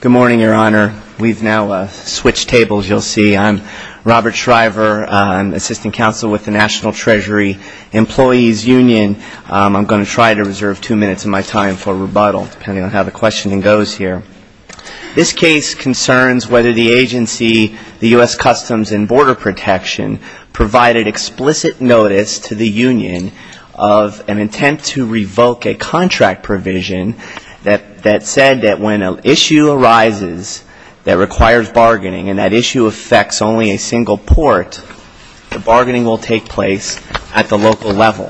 Good morning, Your Honor. We've now switched tables, you'll see. I'm Robert Shriver. I'm Assistant Counsel with the National Treasury Employees Union. I'm going to try to reserve two minutes of my time for rebuttal, depending on how the questioning goes here. This case concerns whether the agency, the U.S. Customs and Border Protection, provided explicit notice to the union of an attempt to revoke a contract provision that said that when an issue arises that requires bargaining and that issue affects only a single port, the bargaining will take place at the local level.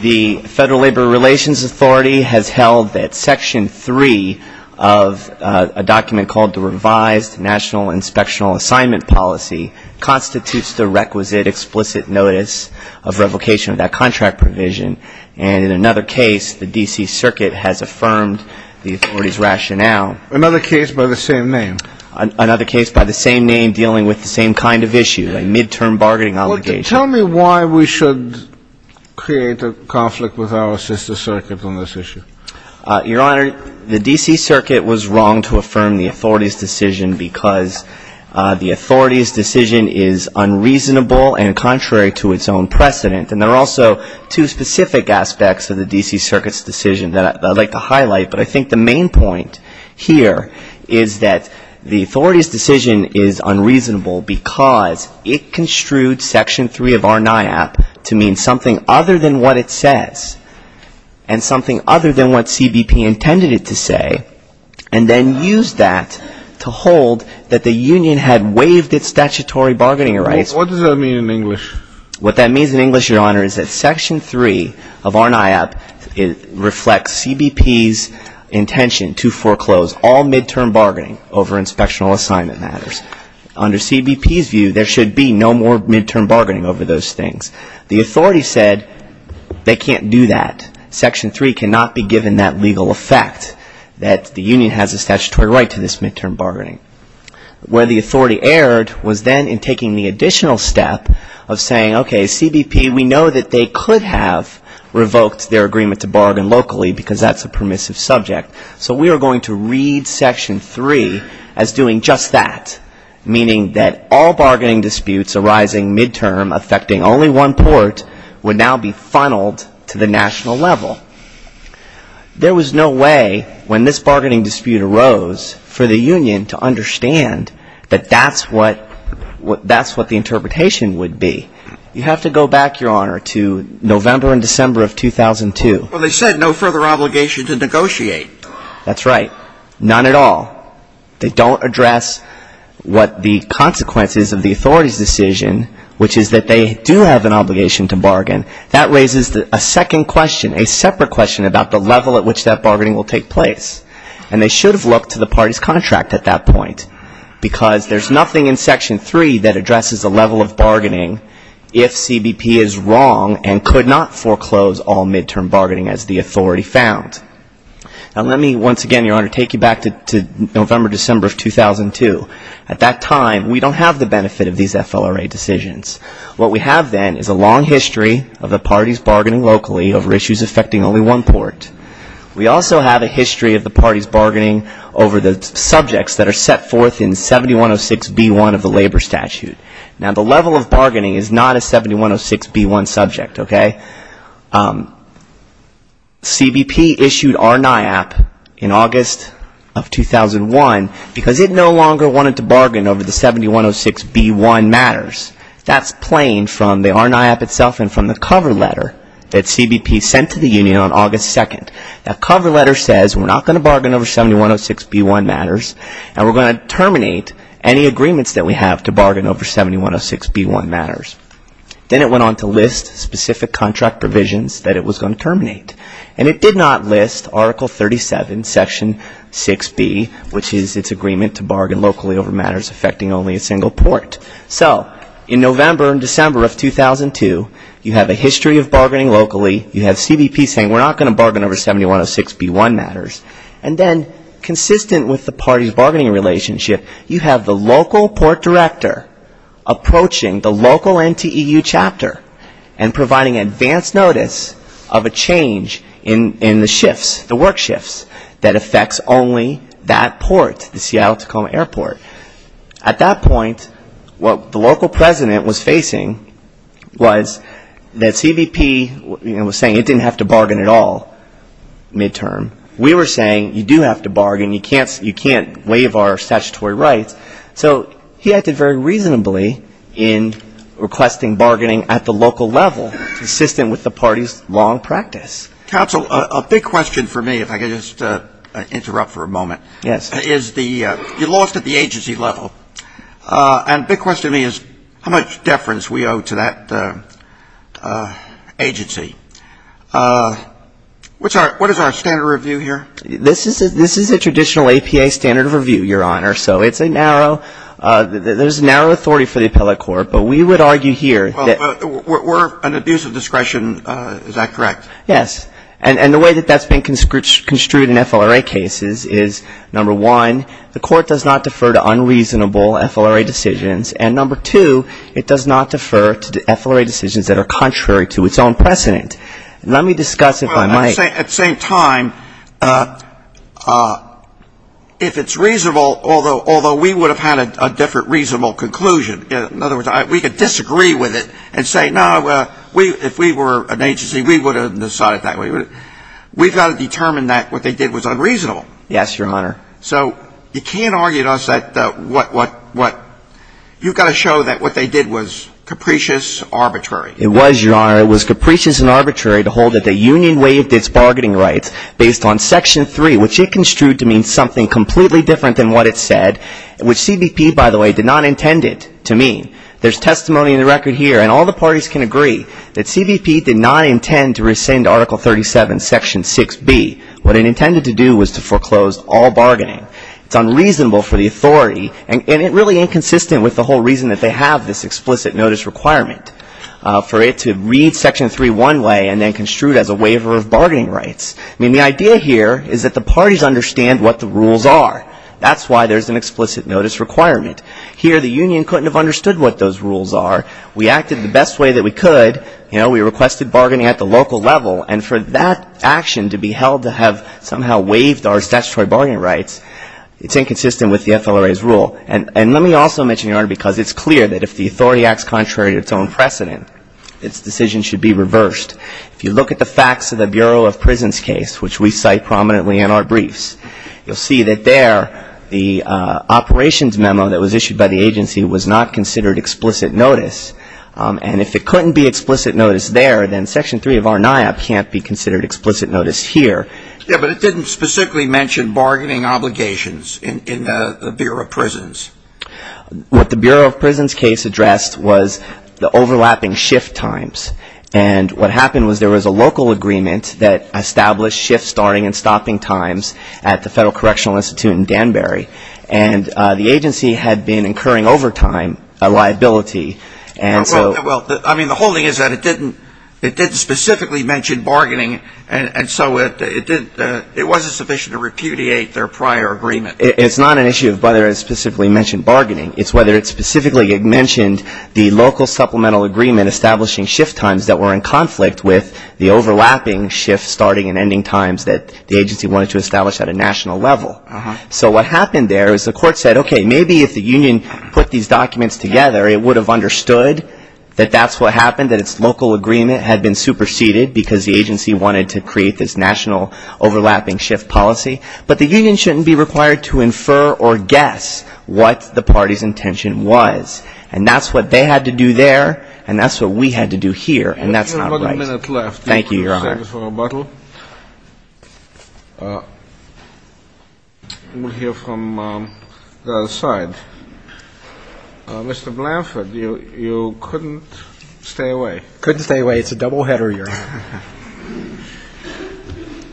The Federal Labor Relations Authority has held that Section 3 of a document called the Revised National Inspectional Assignment Policy constitutes the requisite explicit notice of revocation of that contract provision. And in another case, the D.C. Circuit has affirmed the authority's rationale. Another case by the same name? Another case by the same name dealing with the same kind of issue, a mid-term bargaining obligation. Tell me why we should create a conflict with our sister circuit on this issue. Your Honor, the D.C. Circuit was wrong to affirm the authority's decision because the authority's decision is unreasonable and contrary to its own precedent. And there are also two specific aspects of the D.C. Circuit's decision that I'd like to highlight, but I think the main point here is that the authority's decision is unreasonable because it construed Section 3 of RNAI Act to mean something other than what it says and something other than what CBP intended it to say and then used that to hold that the union had waived its statutory bargaining rights. What does that mean in English? What that means in English, Your Honor, is that Section 3 of RNAI Act reflects CBP's intention to foreclose all mid-term bargaining over inspectional assignment matters. Under CBP's view, there should be no more mid-term bargaining over those things. The authority said they can't do that. Section 3 cannot be given that legal effect, that the union has a statutory right to this mid-term bargaining. Where the authority erred was then in taking the additional step of saying, okay, CBP, we know that they could have revoked their agreement to bargain locally because that's a permissive subject, so we are going to read Section 3 as doing just that, meaning that all bargaining disputes arising mid-term affecting only one port would now be funneled to the national level. There was no way when this bargaining dispute arose for the union to understand that that's what the interpretation would be. You have to go back, Your Honor, to November and December of 2002. Well, they said no further obligation to negotiate. That's right. None at all. They don't address what the consequences of the authority's decision, which is that they do have an obligation to bargain. That raises a second question, a separate question, about the level at which that bargaining will take place. And they should have looked to the party's contract at that point because there's nothing in Section 3 that addresses the level of bargaining if CBP is wrong and could not foreclose all mid-term bargaining as the authority found. Now, let me once again, Your Honor, take you back to November, December of 2002. At that time, we don't have the benefit of these FLRA decisions. What we have then is a long history of the parties bargaining locally over issues affecting only one port. We also have a history of the parties bargaining over the subjects that are set forth in 7106b1 of the Labor Statute. Now, the level of bargaining is not a 7106b1 subject, okay? CBP issued RNIAP in August of 2001 because it no longer wanted to bargain over the 7106b1 matters. That's plain from the RNIAP itself and from the cover letter that CBP sent to the union on August 2nd. That cover letter says we're not going to bargain over 7106b1 matters and we're going to terminate any agreements that we have to bargain over 7106b1 matters. Then it went on to list specific contract provisions that it was going to terminate. And it did not list Article 37, Section 6b, which is its agreement to bargain locally over matters affecting only a single port. So, in November and December of 2002, you have a history of bargaining locally. You have CBP saying we're not going to bargain over 7106b1 matters. And then, consistent with the parties' bargaining relationship, you have the local port director approaching the local NTEU chapter and providing advance notice of a change in the shifts, the work shifts that affects only that port, the Seattle-Tacoma Airport. At that point, what the local president was facing was that CBP was saying it didn't have to bargain at all midterm. We were saying you do have to bargain. You can't waive our statutory rights. So he acted very reasonably in requesting bargaining at the local level, consistent with the party's long practice. Counsel, a big question for me, if I could just interrupt for a moment. Yes. Is the you lost at the agency level. And a big question to me is how much deference we owe to that agency. What is our standard of review here? This is a traditional APA standard of review, Your Honor. So it's a narrow, there's a narrow authority for the appellate court. But we would argue here that we're an abuse of discretion. Is that correct? Yes. And the way that that's been construed in FLRA cases is, number one, the court does not defer to unreasonable FLRA decisions. And number two, it does not defer to FLRA decisions that are contrary to its own precedent. Let me discuss if I might. At the same time, if it's reasonable, although we would have had a different reasonable conclusion, in other words, we could disagree with it and say, no, if we were an agency, we would have decided that way. We've got to determine that what they did was unreasonable. Yes, Your Honor. So you can't argue to us that what you've got to show that what they did was capricious, arbitrary. It was, Your Honor. It was capricious and arbitrary to hold that the union waived its bargaining rights based on Section 3, which it construed to mean something completely different than what it said, which CBP, by the way, did not intend it to mean. There's testimony in the record here, and all the parties can agree, that CBP did not intend to rescind Article 37, Section 6B. What it intended to do was to foreclose all bargaining. It's unreasonable for the authority and really inconsistent with the whole reason that they have this explicit notice requirement for it to read Section 3 one way and then construe it as a waiver of bargaining rights. I mean, the idea here is that the parties understand what the rules are. That's why there's an explicit notice requirement. Here, the union couldn't have understood what those rules are. We acted the best way that we could. You know, we requested bargaining at the local level. And for that action to be held to have somehow waived our statutory bargaining rights, it's inconsistent with the FLRA's rule. And let me also mention, Your Honor, because it's clear that if the authority acts contrary to its own precedent, its decision should be reversed. If you look at the facts of the Bureau of Prisons case, which we cite prominently in our briefs, you'll see that there the operations memo that was issued by the agency was not considered explicit notice. And if it couldn't be explicit notice there, then Section 3 of our NIOP can't be considered explicit notice here. Yeah, but it didn't specifically mention bargaining obligations in the Bureau of Prisons. What the Bureau of Prisons case addressed was the overlapping shift times. And what happened was there was a local agreement that established shift starting and stopping times at the Federal Correctional Institute in Danbury. And the agency had been incurring over time a liability, and so — Well, I mean, the whole thing is that it didn't specifically mention bargaining, and so it wasn't sufficient to repudiate their prior agreement. It's not an issue of whether it specifically mentioned bargaining. It's whether it specifically mentioned the local supplemental agreement establishing shift times that were in conflict with the overlapping shift starting and ending times that the agency wanted to establish at a national level. So what happened there is the court said, okay, maybe if the union put these documents together, it would have understood that that's what happened, that its local agreement had been superseded because the agency wanted to create this national overlapping shift policy. But the union shouldn't be required to infer or guess what the party's intention was. And that's what they had to do there, and that's what we had to do here. And that's not right. We have about a minute left. Thank you, Your Honor. Thank you for your rebuttal. We'll hear from the other side. Mr. Blanford, you couldn't stay away. Couldn't stay away. It's a doubleheader, Your Honor.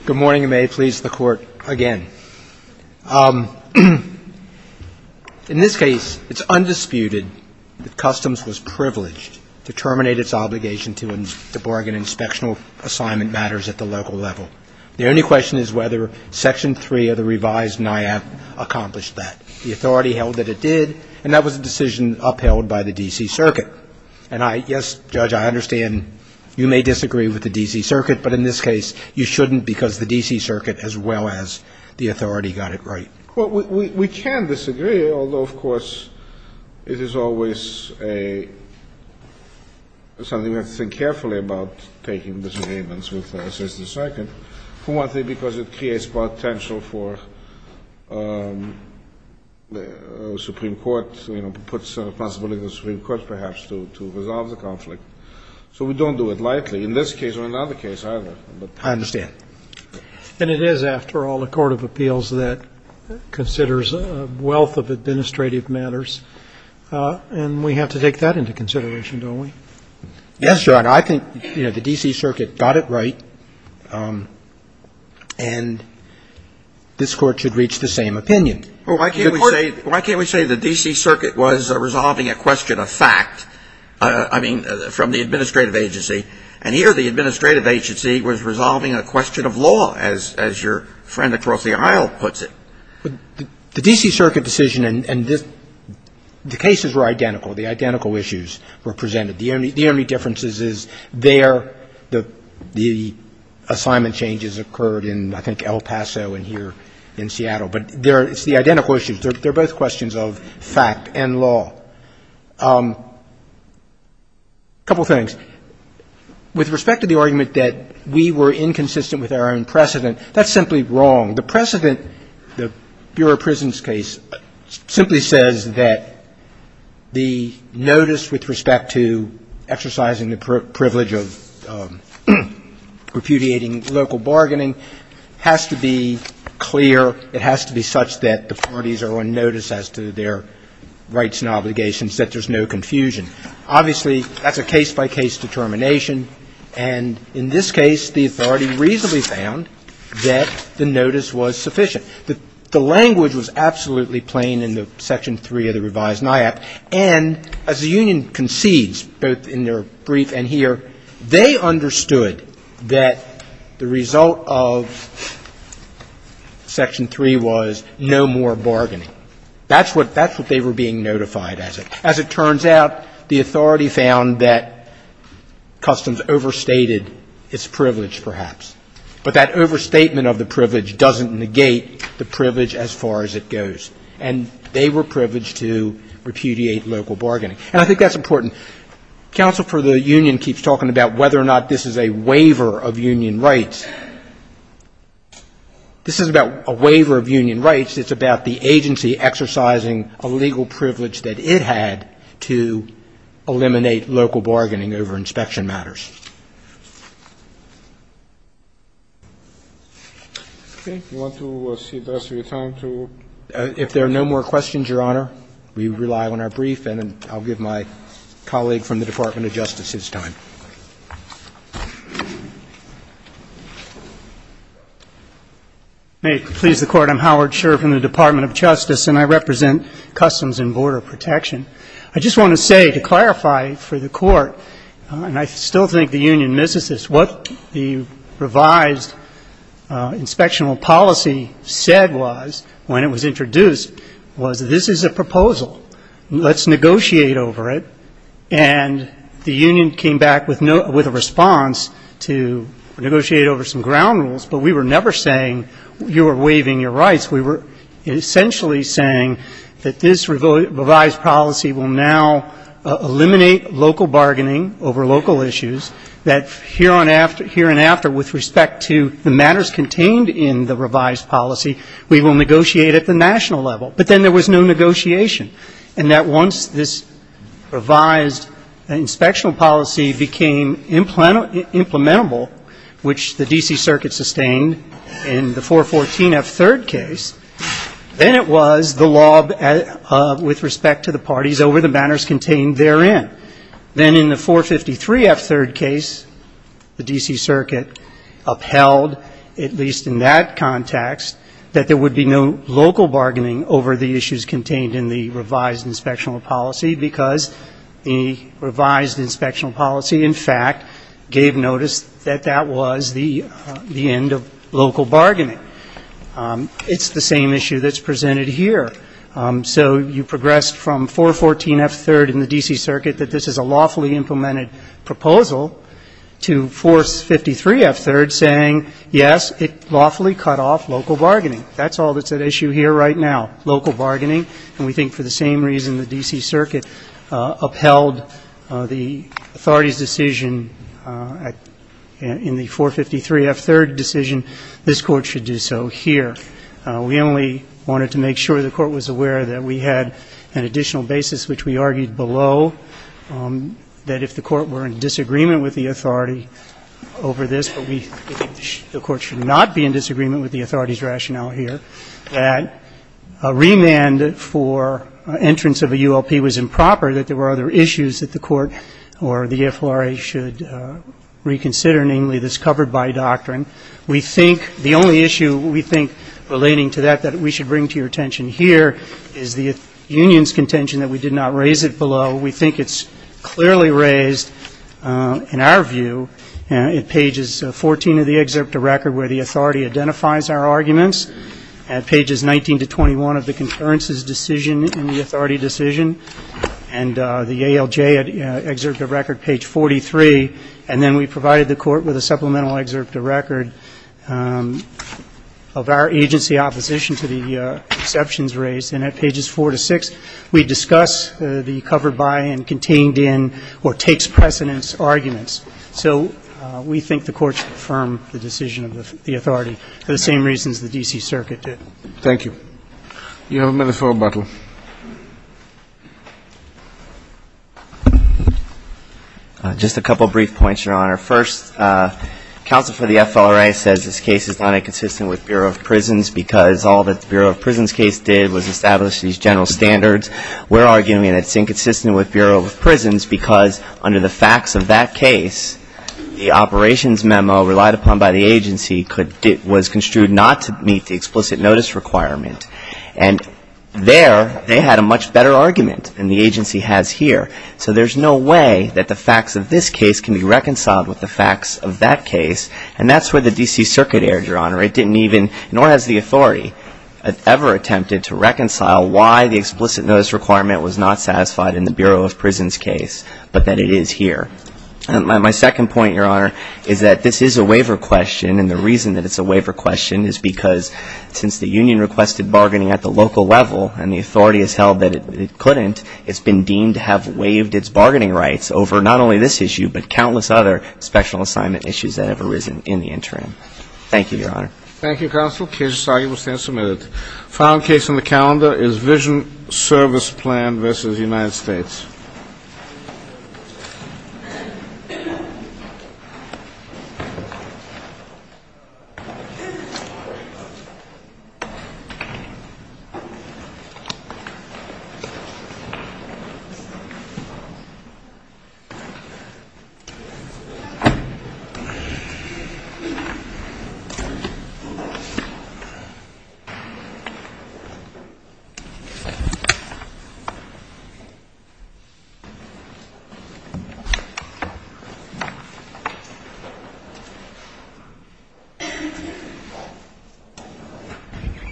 Good morning, and may it please the Court again. In this case, it's undisputed that Customs was privileged to terminate its obligation to bargain inspectional assignment matters at the local level. The only question is whether Section 3 of the revised NIAAP accomplished that. The authority held that it did, and that was a decision upheld by the D.C. Circuit. And, yes, Judge, I understand you may disagree with the D.C. Circuit, but in this case, you shouldn't because the D.C. Circuit as well as the authority got it right. Well, we can disagree, although, of course, it is always something we have to think carefully about taking disagreements with the D.C. Circuit, for one thing, because it creates potential for the Supreme Court, you know, puts a possibility for the Supreme Court perhaps to resolve the conflict. So we don't do it lightly in this case or another case either. I understand. And it is, after all, a court of appeals that considers a wealth of administrative matters, and we have to take that into consideration, don't we? Yes, Your Honor. I think, you know, the D.C. Circuit got it right, and this Court should reach the same opinion. Why can't we say the D.C. Circuit was resolving a question of fact, I mean, from the administrative agency, and here the administrative agency was resolving a question of law, as your friend across the aisle puts it? The D.C. Circuit decision and the cases were identical. The identical issues were presented. The only difference is there the assignment changes occurred in, I think, El Paso and here in Seattle. But it's the identical issues. They're both questions of fact and law. A couple of things. With respect to the argument that we were inconsistent with our own precedent, that's simply wrong. The precedent, the Bureau of Prisons case, simply says that the notice with respect to exercising the privilege of repudiating local bargaining has to be clear. It has to be such that the parties are on notice as to their rights and obligations that there's no confusion. Obviously, that's a case-by-case determination. And in this case, the authority reasonably found that the notice was sufficient. The language was absolutely plain in the Section 3 of the revised NIAP, and as the union concedes, both in their brief and here, they understood that the result of Section 3 was no more bargaining. That's what they were being notified as. As it turns out, the authority found that Customs overstated its privilege, perhaps. But that overstatement of the privilege doesn't negate the privilege as far as it goes. And they were privileged to repudiate local bargaining. And I think that's important. Counsel for the union keeps talking about whether or not this is a waiver of union rights. This is about a waiver of union rights. It's about the agency exercising a legal privilege that it had to eliminate local bargaining over inspection matters. If there are no more questions, Your Honor, we rely on our brief. And I'll give my colleague from the Department of Justice his time. Howard Scherr, Jr. May it please the Court, I'm Howard Scherr from the Department of Justice, and I represent Customs and Border Protection. I just want to say, to clarify for the Court, and I still think the union misses this, what the revised inspectional policy said was, when it was introduced, was this is a proposal, let's negotiate over it. And the union came back with a response to negotiate over some ground rules. But we were never saying you are waiving your rights. We were essentially saying that this revised policy will now eliminate local bargaining over local issues, that hereon after, with respect to the matters contained in the revised policy, we will negotiate at the national level. But then there was no negotiation. And that once this revised inspectional policy became implementable, which the D.C. Circuit sustained in the 414F3rd case, then it was the law with respect to the parties over the matters contained therein. Then in the 453F3rd case, the D.C. Circuit upheld, at least in that context, that there would be no local bargaining over the issues contained in the revised inspectional policy because the revised inspectional policy, in fact, gave notice that that was the end of local bargaining. It's the same issue that's presented here. So you progressed from 414F3rd in the D.C. Circuit that this is a lawfully implemented proposal to 453F3rd saying, yes, it lawfully cut off local bargaining. That's all that's at issue here right now, local bargaining. And we think for the same reason the D.C. Circuit upheld the authority's decision in the 453F3rd decision, this Court should do so here. We only wanted to make sure the Court was aware that we had an additional basis which we argued below, that if the Court were in disagreement with the authority over this, but we think the Court should not be in disagreement with the authority's rationale here, that a remand for entrance of a ULP was improper, that there were other issues that the Court or the FLRA should reconsider, namely, this covered by doctrine. We think the only issue we think, relating to that, that we should bring to your attention here is the union's contention that we did not raise it below. We think it's clearly raised, in our view, at pages 14 of the excerpt of record where the authority identifies our arguments, at pages 19 to 21 of the concurrence's decision in the authority decision, and the ALJ excerpt of record page 43, and then we provided the Court with a supplemental excerpt of record of our agency opposition to the exceptions raised, and at pages 4 to 6, we discuss the covered by and contained in or takes precedence arguments. So we think the Court should affirm the decision of the authority for the same reasons the D.C. Circuit did. Thank you. You have a minute for rebuttal. Just a couple of brief points, Your Honor. First, counsel for the FLRA says this case is not inconsistent with Bureau of Prisons because all that the Bureau of Prisons case did was establish these general standards. We're arguing that it's inconsistent with Bureau of Prisons because, under the facts of that case, the operations memo relied upon by the agency was construed not to meet the explicit notice requirement. And there, they had a much better argument than the agency has here. So there's no way that the facts of this case can be reconciled with the facts of that case, and that's where the D.C. Circuit erred, Your Honor. It didn't even, nor has the authority ever attempted to reconcile why the explicit notice requirement was not satisfied in the Bureau of Prisons case, but that it is here. My second point, Your Honor, is that this is a waiver question, and the reason that it's a waiver question is because since the union requested bargaining at the local level and the authority has held that it couldn't, it's been deemed to have waived its bargaining rights over not only this issue, but countless other special assignment issues that have arisen in the interim. Thank you, Your Honor. Thank you, Counsel. The case is argued and will stand submitted. The final case on the calendar is Vision Service Plan v. United States. Thank you, Your Honor. Thank you, Your Honor.